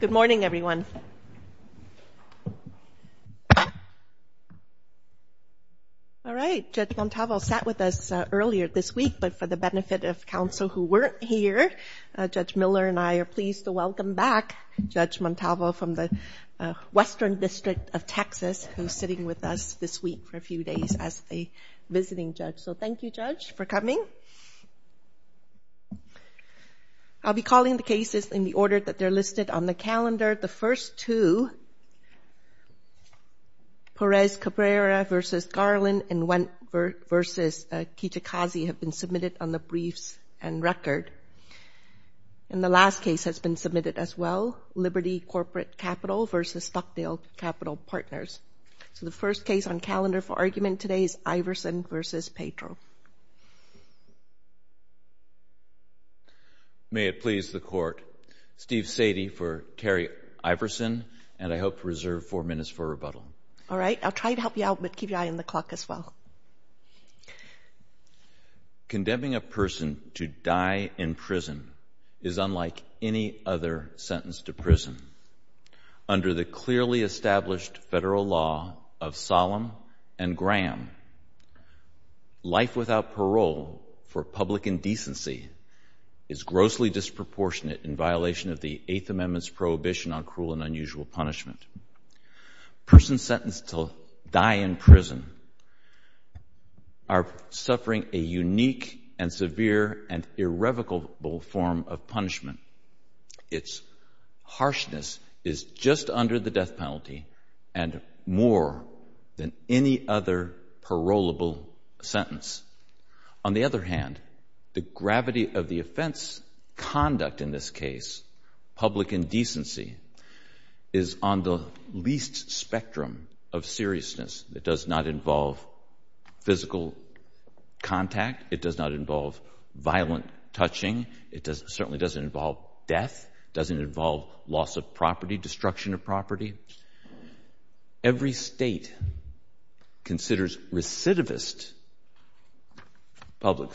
Good morning everyone. All right, Judge Montalvo sat with us earlier this week, but for the benefit of council who weren't here, Judge Miller and I are pleased to welcome back Judge Montalvo from the Western District of Texas who's sitting with us this week for a few days as a visiting judge. So thank you, Judge, for coming. I'll be calling the cases in the order that they're listed on the calendar. The first two, Perez Cabrera v. Garland and Wendt v. Kitakazi have been submitted on the briefs and record. And the last case has been submitted as well, Liberty Corporate Capital v. Stockdale Capital Partners. So the first case on calendar for argument today is Iversen v. Pedro. May it please the court. Steve Sadie for Terry Iversen and I hope to reserve four minutes for rebuttal. All right, I'll try to help you out, but keep your eye on the clock as well. Condemning a person to die in prison is unlike any other sentence to prison. Under the clearly established federal law of Solemn and Graham, life without parole for public indecency is grossly disproportionate in violation of the Eighth Amendment's prohibition on cruel and unusual punishment. Persons sentenced to die in prison are suffering a unique and severe and irrevocable form of punishment. Its harshness is just under the death penalty and more than any other parolable sentence. On the other hand, the gravity of the offense conduct in this case, public indecency, is on the least spectrum of seriousness. It does not involve physical contact. It does not involve violent touching. It certainly doesn't involve death. It doesn't involve loss of property, destruction of property. Every state considers recidivist public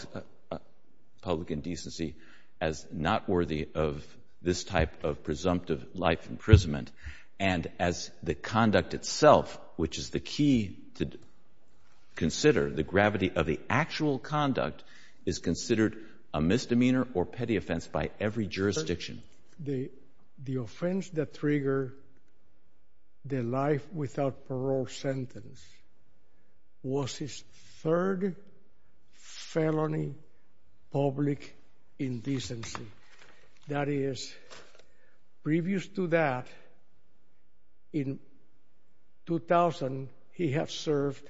public indecency as not worthy of this type of presumptive life imprisonment and as the conduct itself, which is the key to consider, the gravity of the actual conduct is considered a misdemeanor or petty offense by every jurisdiction. The offense that triggered the life without parole sentence was his third felony public indecency. That is, previous to that, in 2000, he had served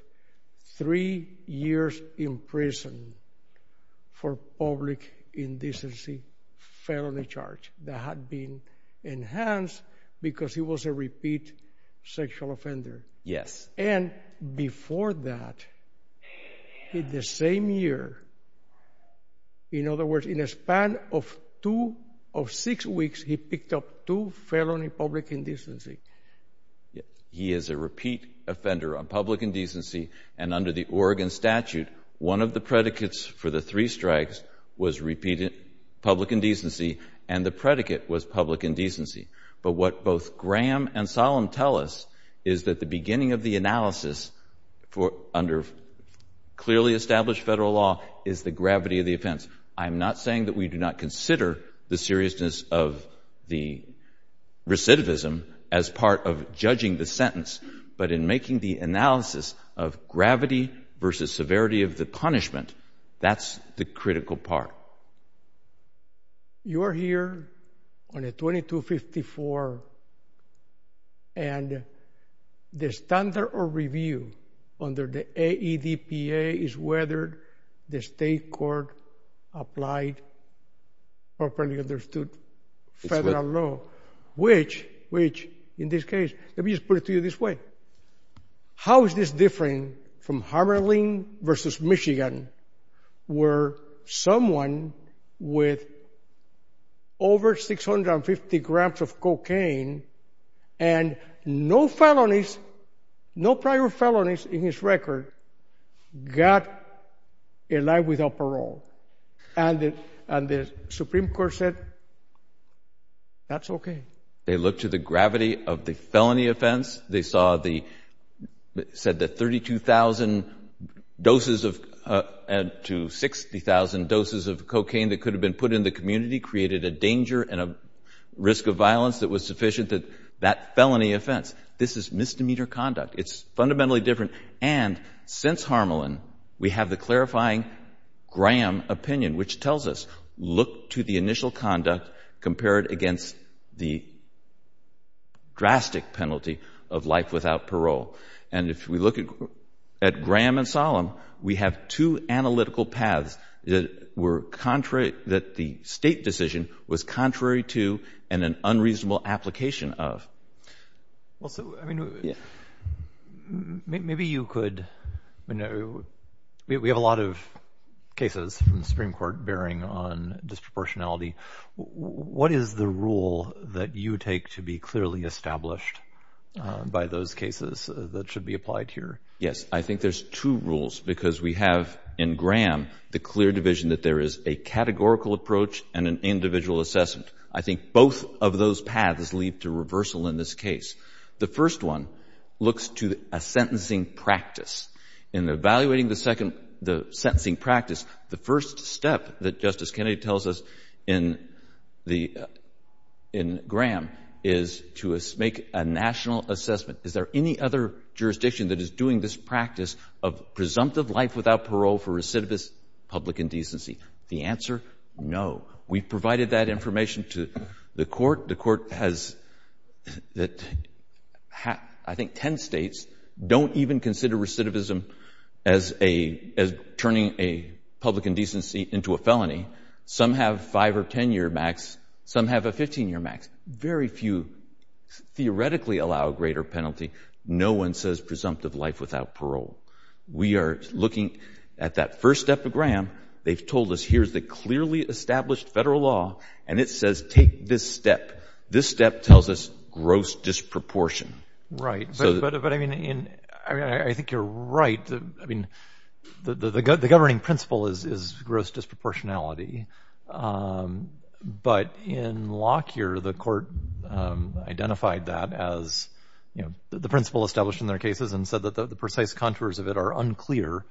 three years in prison for public indecency felony charge that had been enhanced because he was a repeat sexual offender. Yes. And before that, in the same year, in other words, in a span of two of six weeks, he picked up two felony public indecency. He is a repeat offender on public indecency and under the Oregon statute, one of the predicates for the three strikes was repeated public indecency and the predicate was public indecency. But what both Graham and Solem tell us is that the beginning of the analysis under clearly established Federal law is the gravity of the offense. I am not saying that we do not consider the seriousness of the recidivism as part of judging the sentence, but in making the analysis of gravity versus severity of the punishment, that's the critical part. You are here on a 2254 and the standard of review under the AEDPA is whether the state court applied properly understood Federal law, which, in this case, let me just put it to you this way. How is this different from Harberling versus Michigan where someone with over 650 grams of cocaine and no felonies, no prior felonies in his record, got a life without parole? And the Supreme Court said that's okay. They looked to the gravity of the felony offense. They said that 32,000 doses to 60,000 doses of cocaine that could have been put in the community created a danger and a risk of violence that was sufficient that that felony offense. This is misdemeanor conduct. It's fundamentally different. And since Harberling, we have the clarifying Graham opinion, which tells us look to the initial conduct compared against the drastic penalty of life without parole. And if we look at Graham and Solem, we have two analytical paths that were contrary, that the state decision was contrary to and an unreasonable application of. Well, so, I mean, maybe you could we have a lot of cases from the Supreme Court bearing on disproportionality. What is the rule that you take to be clearly established by those cases that should be applied here? Yes. I think there's two rules because we have in Graham the clear division that there is a categorical approach and an individual assessment. I think both of those paths lead to reversal in this case. The first one looks to a sentencing practice. In evaluating the second, the sentencing practice, the first step that Justice Kennedy tells us in the, in Graham is to make a national assessment. Is there any other jurisdiction that is doing this practice of presumptive life without parole for recidivist public indecency? The answer, no. We provided that information to the court. The court has I think ten states don't even consider recidivism as a, as turning a public indecency into a felony. Some have five or ten year max. Some have a 15 year max. Very few theoretically allow a greater penalty. No one says presumptive life without parole. We are looking at that first step of Graham. They've told us here's the clearly established federal law and it says take this step. This step tells us gross disproportion. Right. But I mean, I think you're right. I mean the governing principle is gross disproportionality. But in Lockyer, the court identified that as, you know, the principle established in their cases and said that the precise contours of it are unclear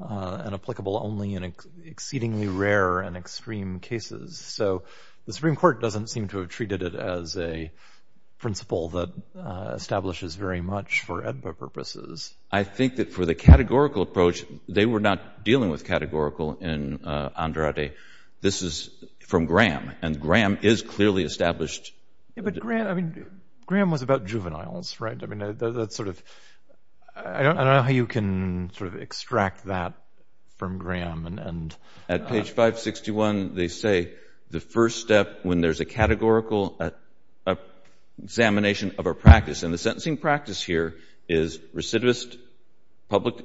and applicable only in exceedingly rare and extreme cases. So the Supreme Court doesn't seem to have treated it as a principle that establishes very much for EDPA purposes. I think that for the categorical approach, they were not dealing with categorical in Andrade. This is from Graham and Graham is clearly established. Yeah, but Graham, I mean, Graham was about juveniles. Right. I mean, that's sort of, I don't know how you can sort of extract that from Graham and. At page 561, they say the first step when there's a categorical examination of a practice and the sentencing practice here is recidivist public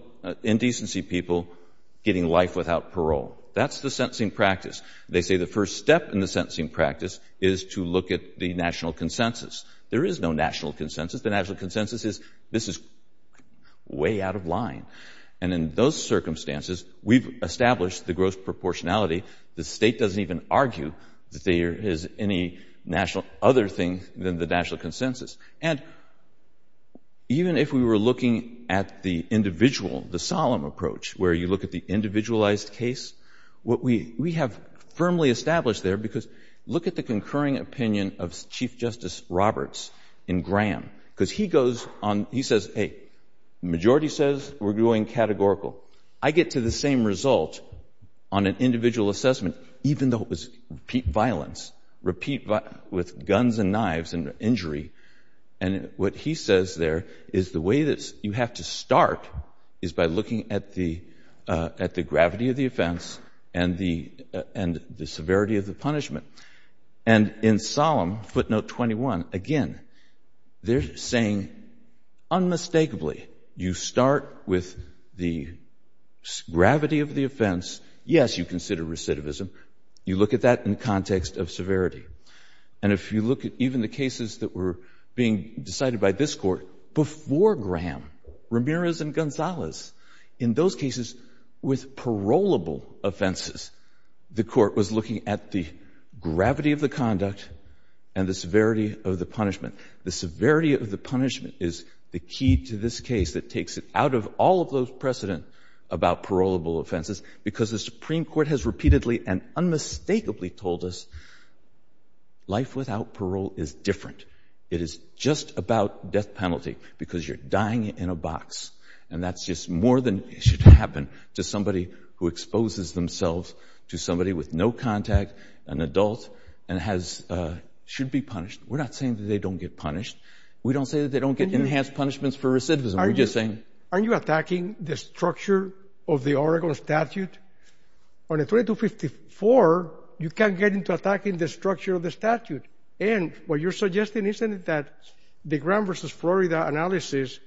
indecency people getting life without parole. That's the sentencing practice. They say the first step in the sentencing practice is to look at the national consensus. There is no national consensus. The national consensus is this is way out of line. And in those circumstances, we've established the gross proportionality. The State doesn't even argue that there is any national other thing than the national consensus. And even if we were looking at the individual, the solemn approach, where you look at the individualized case, what we have firmly established there, because look at the concurring opinion of Chief Justice Roberts in Graham, because he goes on, he says, hey, majority says we're going categorical. I get to the same result on an individual assessment, even though it was repeat violence, repeat with guns and knives and injury. And what he says there is the way that you have to start is by looking at the gravity of the offense and the severity of the punishment. And in solemn, footnote 21, again, they're saying unmistakably you start with the gravity of the offense. Yes, you consider recidivism. You look at that in the context of severity. And if you look at even the cases that were being decided by this Court before Graham, Ramirez and Gonzalez, in those cases with parolable offenses, the Court was looking at the gravity of the conduct and the severity of the punishment. The severity of the punishment is the key to this case that takes it out of all of those precedent about parolable offenses, because the Supreme Court has repeatedly and unmistakably told us life without parole is different. It is just about death penalty, because you're dying in a box. And that's just more than should happen to somebody who exposes themselves to somebody with no contact, an adult, and should be punished. We're not saying that they don't get punished. We don't say that they don't get enhanced punishments for recidivism. Aren't you attacking the structure of the Oracle statute? On a 3254, you can't get into attacking the structure of the statute. And what you're suggesting, isn't it that the Graham v. Florida analysis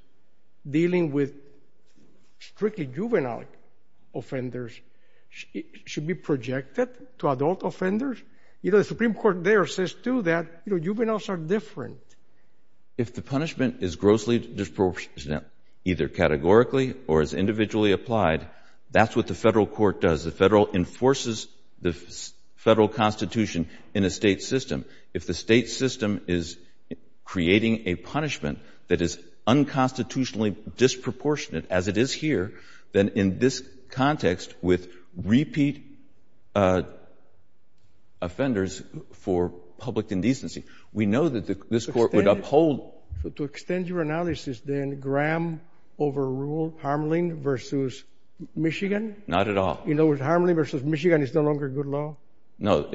dealing with strictly juvenile offenders should be projected to adult offenders? You know, the Supreme Court there says too that juveniles are different. If the punishment is grossly disproportionate, either categorically or as individually applied, that's what the federal court does. The federal enforces the federal constitution in a state system. If the state system is creating a punishment that is unconstitutionally disproportionate, as it is here, then in this context with repeat offenders for public indecency, we know that this court would uphold. To extend your analysis, then, Graham overruled Harmelin v. Michigan? Not at all. In other words, Harmelin v. Michigan is no longer good law? No,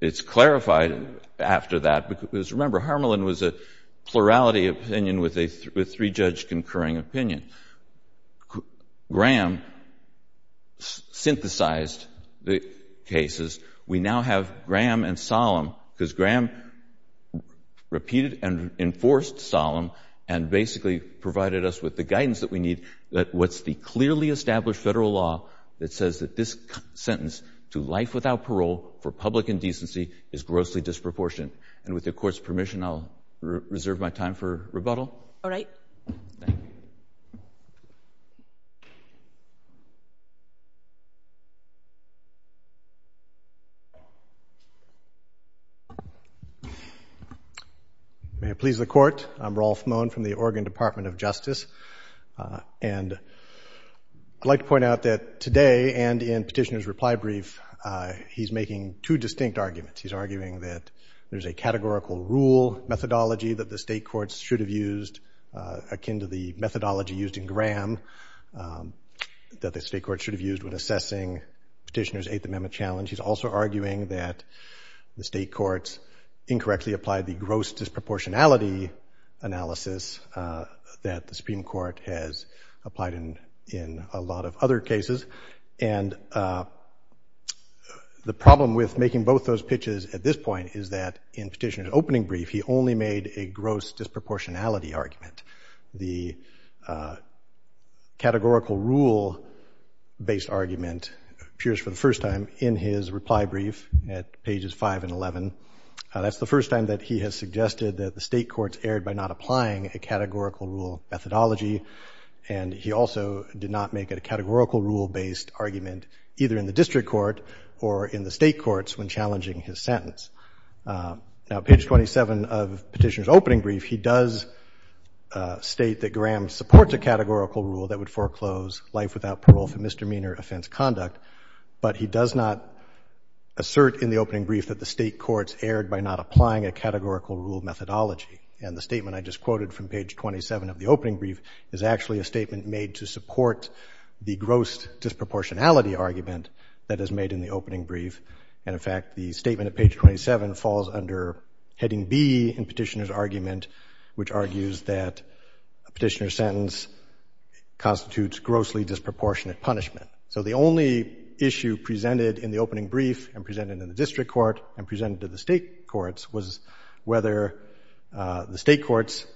it's clarified after that. Because remember, Harmelin was a plurality opinion with a three-judge concurring opinion. Graham synthesized the cases. We now have Graham and Solem, because Graham repeated and enforced Solem and basically provided us with the guidance that we need that what's the clearly established federal law that says that this sentence to life without parole for public indecency is grossly disproportionate? And with the Court's permission, I'll reserve my time for rebuttal. All right. Thank you. May it please the Court, I'm Rolf Mohn from the Oregon Department of Justice. And I'd like to point out that today and in Petitioner's reply brief, he's making two distinct arguments. He's arguing that there's a categorical rule methodology that the state courts should have used, akin to the methodology used in Graham, that the state courts should have used when assessing Petitioner's Eighth Amendment challenge. He's also arguing that the state courts incorrectly applied the gross disproportionality analysis that the Supreme Court has applied in a lot of other cases. And the problem with making both those pitches at this point is that in Petitioner's opening brief, he only made a gross disproportionality argument. The categorical rule based argument appears for the first time in his reply brief at pages 5 and 11. That's the first time that he has suggested that the state courts erred by not applying a categorical rule methodology. And he also did not make a categorical rule based argument either in the district court or in the state courts when challenging his sentence. Now, page 27 of Petitioner's opening brief, he does state that Graham supports a categorical rule that would foreclose life without parole for misdemeanor offense conduct. But he does not assert in the opening brief that the state courts erred by not applying a categorical rule methodology. And the statement I just quoted from page 27 of the opening brief is actually a statement made to support the gross disproportionality argument that is made in the opening brief. And, in fact, the statement at page 27 falls under heading B in Petitioner's argument, which argues that a petitioner's sentence constitutes grossly disproportionate punishment. So the only issue presented in the opening brief and presented in the state courts was whether the state courts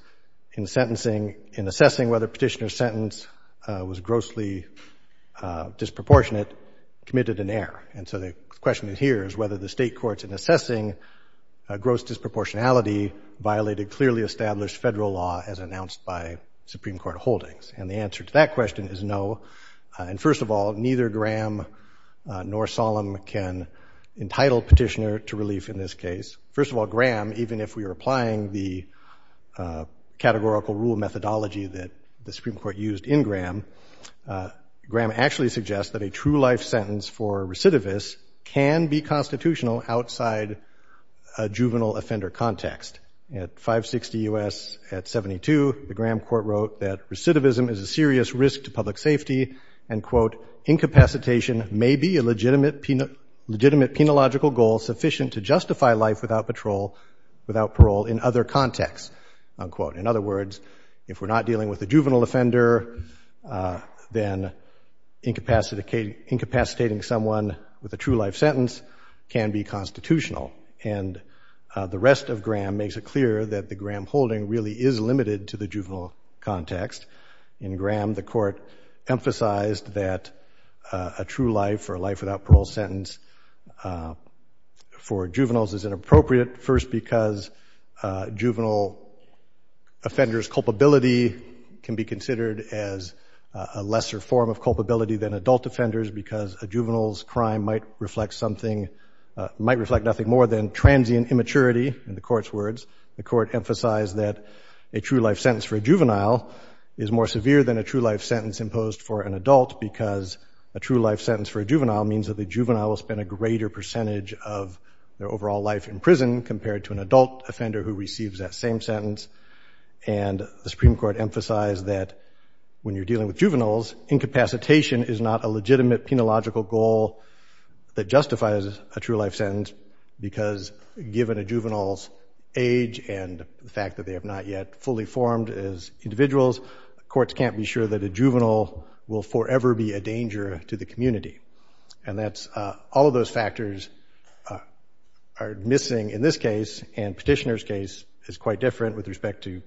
in sentencing, in assessing whether a petitioner's sentence was grossly disproportionate, committed an error. And so the question here is whether the state courts in assessing gross disproportionality violated clearly established federal law as announced by Supreme Court holdings. And the answer to that question is no. And, first of all, neither Graham nor Solem can entitle petitioner to relief in this case. First of all, Graham, even if we were applying the categorical rule methodology that the Supreme Court used in Graham, Graham actually suggests that a true-life sentence for recidivists can be constitutional outside a juvenile offender context. At 560 U.S., at 72, the Graham court wrote that recidivism is a serious risk to public safety and, quote, incapacitation may be a legitimate penological goal sufficient to justify life without parole in other contexts, unquote. In other words, if we're not dealing with a juvenile offender, then incapacitating someone with a true-life sentence can be constitutional. And the rest of Graham makes it clear that the Graham holding really is limited to the juvenile context. In Graham, the court emphasized that a true-life or a life-without-parole sentence for juveniles is inappropriate, first because juvenile offenders' culpability can be considered as a lesser form of culpability than adult offenders because a juvenile's crime might reflect something, might reflect nothing more than transient immaturity, in the court's words. The court emphasized that a true-life sentence for a juvenile is more severe than a true-life sentence imposed for an adult because a true-life sentence for a juvenile means that the juvenile will spend a greater percentage of their overall life in prison compared to an adult offender who receives that same sentence, and the Supreme Court emphasized that when you're dealing with juveniles, incapacitation is not a legitimate penological goal that justifies a true-life sentence because, given a juvenile's goals, courts can't be sure that a juvenile will forever be a danger to the community. And all of those factors are missing in this case, and Petitioner's case is quite different with respect to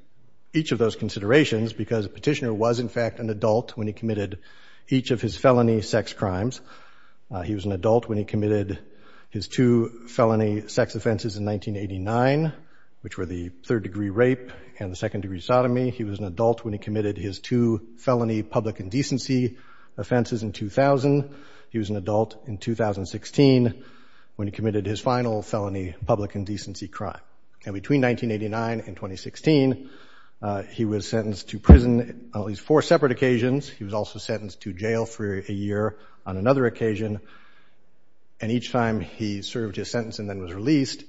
each of those considerations because Petitioner was, in fact, an adult when he committed each of his felony sex crimes. He was an adult when he committed his two felony sex offenses in 1989, which were the third-degree rape and the second-degree sodomy. He was an adult when he committed his two felony public indecency offenses in 2000. He was an adult in 2016 when he committed his final felony public indecency crime. And between 1989 and 2016, he was sentenced to prison on at least four separate occasions. He was also sentenced to jail for a year on another occasion, and each time he served his sentence and then was released,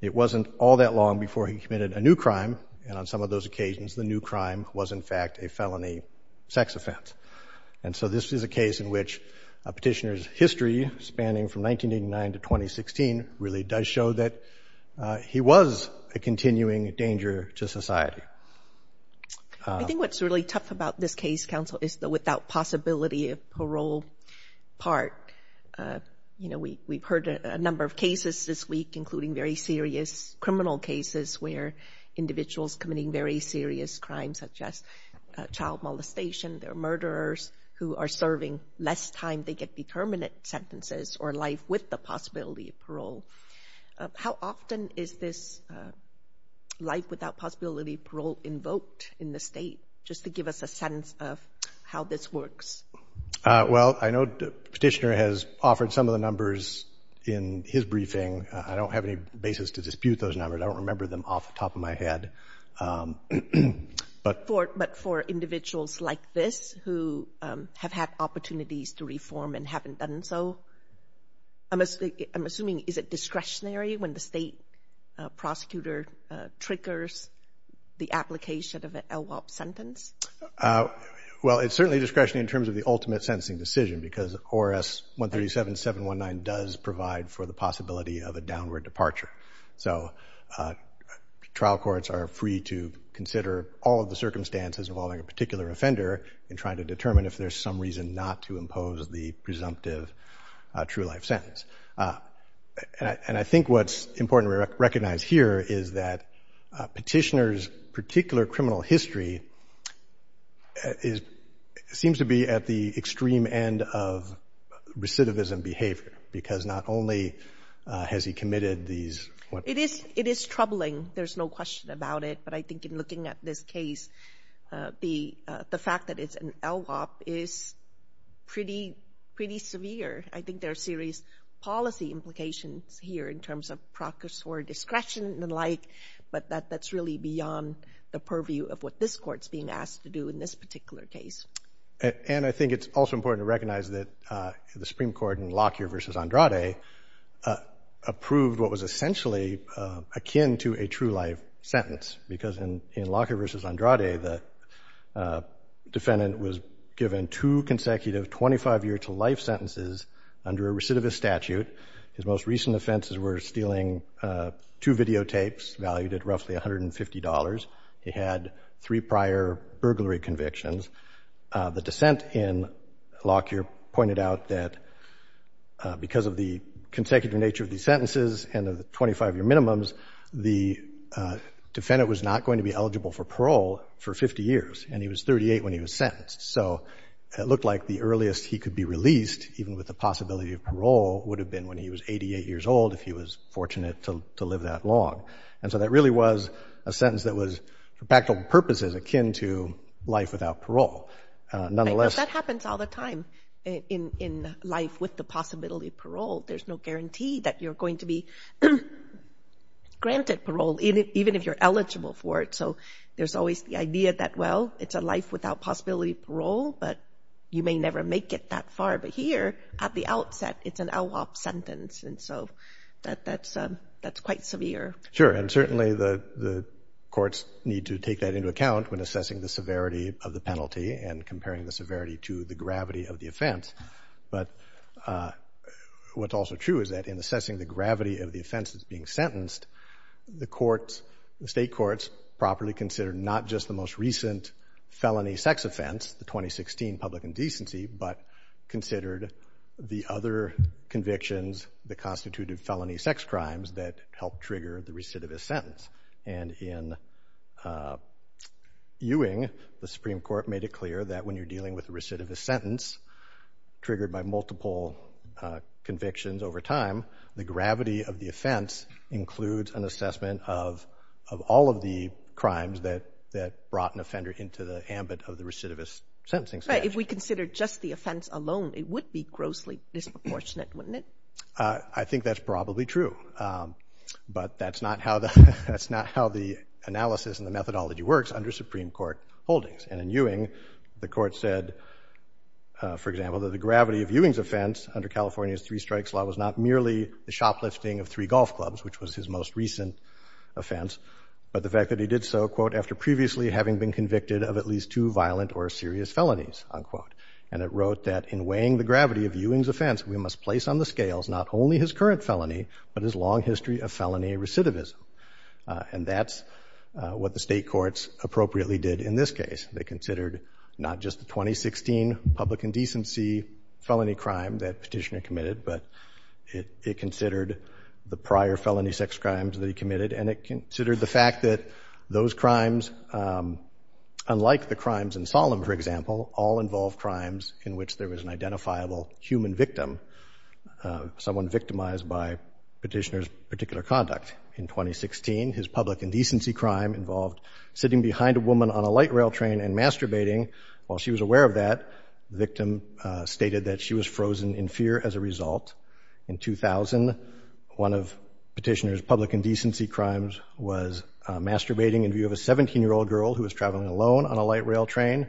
it wasn't all that long before he committed a new crime. And on some of those occasions, the new crime was, in fact, a felony sex offense. And so this is a case in which Petitioner's history, spanning from 1989 to 2016, really does show that he was a continuing danger to society. I think what's really tough about this case, counsel, is the without-possibility-of-parole part. You know, we've heard a number of cases this week, including very serious criminal cases where individuals committing very serious crimes, such as child molestation. There are murderers who are serving less time. They get determinate sentences or life with the possibility of parole. How often is this life without possibility of parole invoked in the state, just to give us a sense of how this works? In his briefing, I don't have any basis to dispute those numbers. I don't remember them off the top of my head. But for individuals like this who have had opportunities to reform and haven't done so, I'm assuming is it discretionary when the state prosecutor triggers the application of an LWOP sentence? Well, it's certainly discretionary in terms of the ultimate sentencing decision, because ORS 137-719 does provide for the possibility of a downward departure. So trial courts are free to consider all of the circumstances involving a particular offender in trying to determine if there's some reason not to impose the presumptive true-life sentence. And I think what's important to recognize here is that petitioners' particular criminal history seems to be at the extreme end of recidivism behavior, because not only has he committed these... It is troubling. There's no question about it. But I think in looking at this case, the fact that it's an LWOP is pretty severe. I think there are serious policy implications here in terms of processor discretion and the like, but that's really beyond the purview of what this Court's being asked to do in this particular case. And I think it's also important to recognize that the Supreme Court in Lockyer v. Andrade approved what was essentially akin to a true-life sentence, because in Lockyer v. Andrade, the defendant was given two consecutive 25-year-to-life sentences under a recidivist statute. His most recent offenses were stealing two videotapes valued at roughly $150. He had three prior burglary convictions. The dissent in Lockyer pointed out that because of the consecutive nature of these sentences and the 25-year minimums, the defendant was not going to be eligible for parole for 50 years, and he was 38 when he was sentenced. So it looked like the earliest he could be released, even with the possibility of parole, would have been when he was 88 years old, if he was fortunate to live that long. And so that really was a sentence that was, for practical purposes, akin to life without parole. Nonetheless... Right, but that happens all the time in life with the possibility of parole. There's no guarantee that you're going to be granted parole, even if you're eligible for it. So there's always the idea that, well, it's a life without possibility of parole, but you may never make it that far. But here, at the outset, it's an LWOP sentence. And so that's quite severe. Sure, and certainly the courts need to take that into account when assessing the severity of the penalty and comparing the severity to the gravity of the offense. But what's also true is that in assessing the gravity of the offense that's being sentenced, the courts the state courts properly considered not just the most recent felony sex offense, the 2016 public indecency, but considered the other convictions, the constitutive felony sex crimes that helped trigger the recidivist sentence. And in Ewing, the Supreme Court made it clear that when you're dealing with a recidivist sentence triggered by multiple convictions over time, the gravity of the offense includes an assessment of all of the crimes that brought an offender into the ambit of the recidivist sentencing statute. Right, if we consider just the offense alone, it would be grossly disproportionate, wouldn't it? I think that's probably true, but that's not how the analysis and the methodology works under Supreme Court holdings. And in Ewing, the court said, for example, that the gravity of Ewing's offense under California's three strikes law was not merely the shoplifting of three golf clubs, which was his most recent offense, but the fact that he did so, quote, after previously having been convicted of at least two violent or serious felonies, unquote. And it wrote that in weighing the gravity of Ewing's offense, we must place on the scales not only his current felony, but his long history of felony recidivism. And that's what the State courts appropriately did in this case. They considered not just the 2016 public indecency felony crime that Petitioner committed, but it considered the prior felony sex crimes that he committed, and it considered the fact that those crimes, unlike the crimes in Solemn, for example, all involve crimes in which there was an identifiable human victim, someone victimized by Petitioner's particular conduct. In 2016, his public indecency crime involved sitting behind a woman on a light rail train and masturbating. While she was aware of that, the victim stated that she was frozen in fear as a result. In 2000, one of Petitioner's public indecency crimes was masturbating in view of a 17-year-old girl who was traveling alone on a light rail train.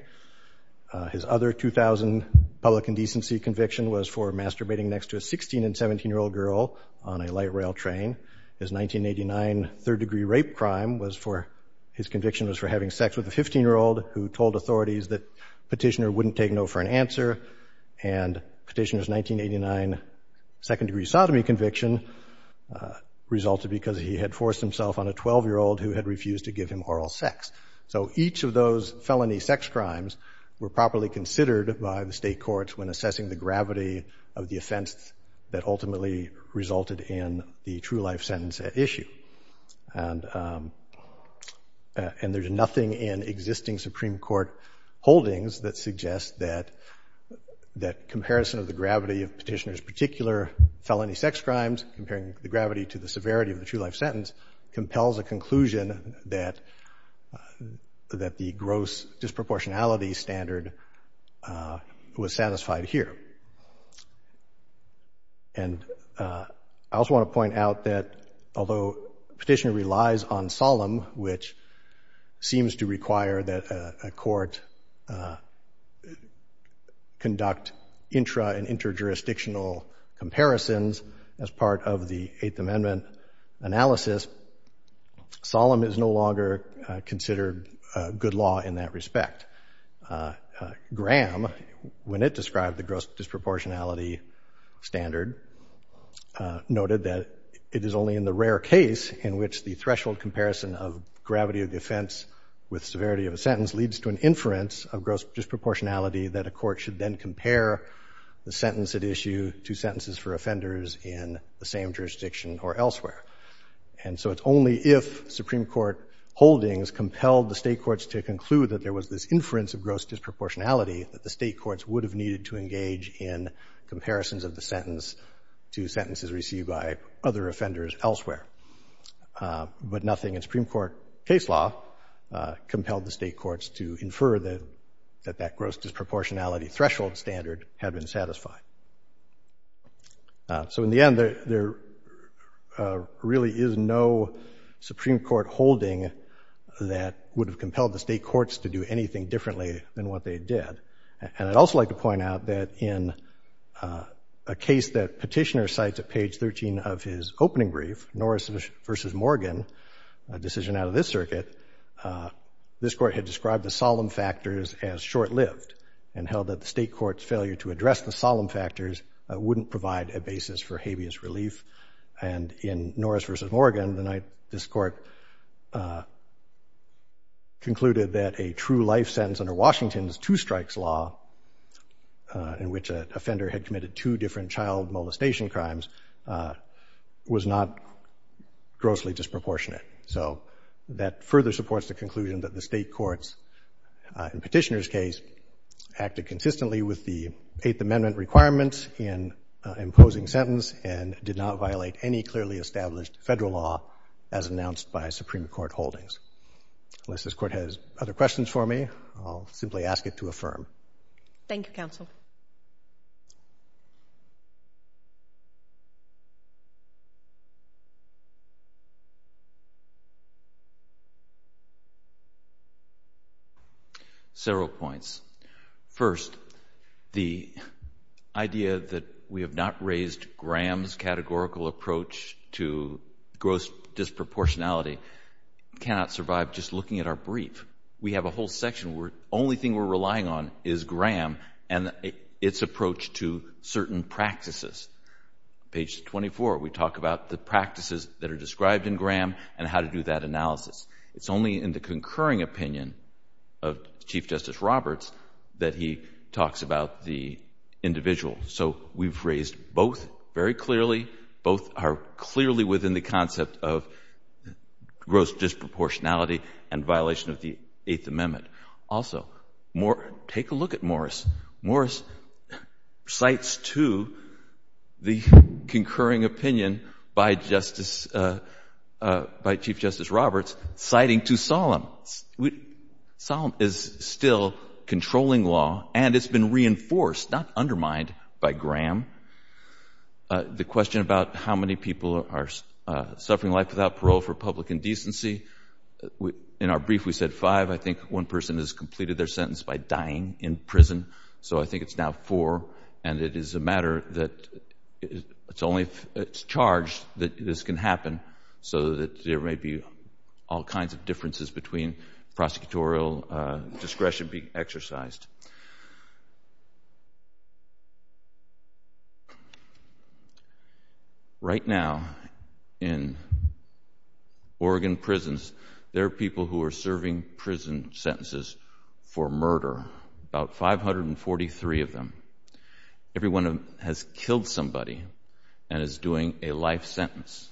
His other 2000 public indecency conviction was for masturbating next to a 16- and 17-year-old girl on a light rail train. His 1989 third-degree rape crime was for having sex with a 15-year-old who told authorities that Petitioner wouldn't take no for an answer. And Petitioner's 1989 second-degree sodomy conviction resulted because he had forced himself on a 12-year-old who had refused to give him oral sex. So each of those felony sex crimes were properly considered by the state courts when assessing the gravity of the offense that ultimately resulted in the true-life sentence at issue. And there's nothing in existing Supreme Court holdings that suggests that comparison of the gravity of Petitioner's particular felony sex crimes, comparing the gravity to the severity of the true-life sentence, compels a conclusion that the gross disproportionality standard was satisfied here. And I also want to point out that although Petitioner relies on solemn, which seems to require that a court conduct intra- and interjurisdictional comparisons as part of the Eighth Amendment analysis, solemn is no longer considered good law in that respect. Graham, when it described the gross disproportionality standard, noted that it is only in the rare case in which the threshold comparison of gravity of the offense with severity of a sentence leads to an inference of gross disproportionality that a court should then compare the sentence at issue to sentences for offenders in the same case. And so it's only if Supreme Court holdings compelled the State courts to conclude that there was this inference of gross disproportionality that the State courts would have needed to engage in comparisons of the sentence to sentences received by other offenders elsewhere. But nothing in Supreme Court case law compelled the State courts to infer that that gross disproportionality threshold standard had been satisfied. So in the end, there really is no Supreme Court holding that would have compelled the State courts to do anything differently than what they did. And I'd also like to point out that in a case that Petitioner cites at page 13 of his opening brief, Norris v. Morgan, a decision out of this circuit, this Court had described the solemn factors as short-lived and held that the State court's failure to address the solemn factors wouldn't provide a basis for habeas relief. And in Norris v. Morgan, this Court concluded that a true-life sentence under Washington's two-strikes law in which an offender had committed two different child molestation crimes was not grossly disproportionate. So that further supports the conclusion that the State courts in Petitioner's case acted consistently with the imposing sentence and did not violate any clearly established federal law as announced by Supreme Court holdings. Unless this Court has other questions for me, I'll simply ask it to affirm. Thank you, Counsel. Several points. First, the idea that we have not raised Graham's categorical approach to gross disproportionality cannot survive just looking at our brief. We have a whole section where the only thing we're relying on is Graham and its approach to certain practices. Page 24, we talk about the practices that are described in Graham and how to do that analysis. It's only in the concurring opinion of Chief Justice Roberts that he talks about the individual. So we've raised both very clearly. Both are clearly within the concept of gross disproportionality and violation of the Eighth Amendment. Also, take a look at Morris. Morris cites to the concurring opinion by Chief Justice Roberts, citing to Solemn. Solemn is still controlling law, and it's been reinforced, not undermined, by Graham. The question about how many people are suffering life without parole for public indecency, in our brief we said five. I think one person has completed their sentence by dying in prison. So I think it's now four, and it is a matter that it's only if it's charged that this can happen so that there may be all kinds of differences between prosecutorial discretion being exercised. Right now, in Oregon prisons, there are people who are serving prison sentences for murder, about 543 of them. Everyone has killed somebody and is doing a life sentence.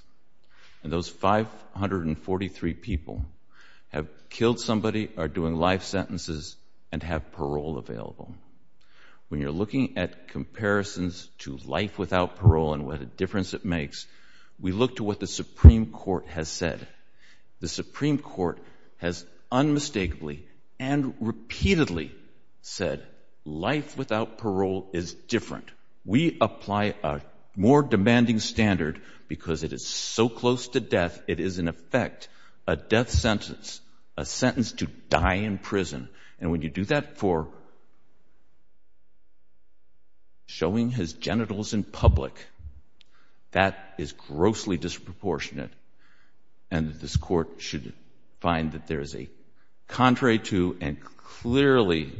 And those 543 people have killed somebody, are doing life sentences, and have parole available. When you're looking at comparisons to life without parole and what a difference it makes, we look to what the Supreme Court has said. The Supreme Court has unmistakably and repeatedly said life without parole is different. We apply a more demanding standard because it is so close to death, it is in effect a death sentence, a sentence to die in prison. And when you do that for showing his genitals in public, that is grossly disproportionate. And this court should find that there is a contrary to and clearly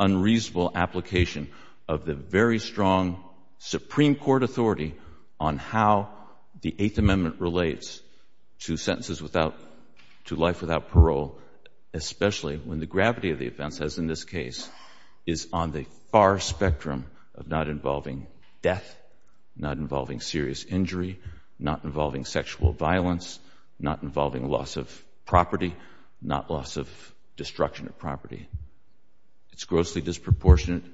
unreasonable application of the very strong Supreme Court authority on how the Eighth Amendment relates to sentences without, to life without parole, especially when the gravity of the offense, as in this case, is on the far spectrum of not involving death, not involving serious injury, not involving sexual violence, not involving loss of property, not loss of destruction of property. It's grossly disproportionate.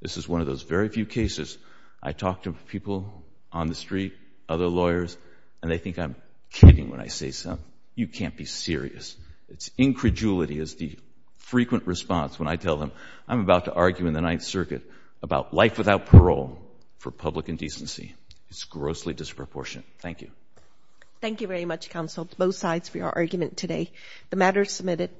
This is one of those very few cases I talk to people on the street, other lawyers, and they think I'm kidding when I say something. You can't be serious. It's incredulity is the frequent response when I tell them I'm about to argue in the Ninth Circuit about life without parole for public indecency. It's grossly disproportionate. Thank you. Thank you very much, counsel, both sides for your argument today. The matter is submitted.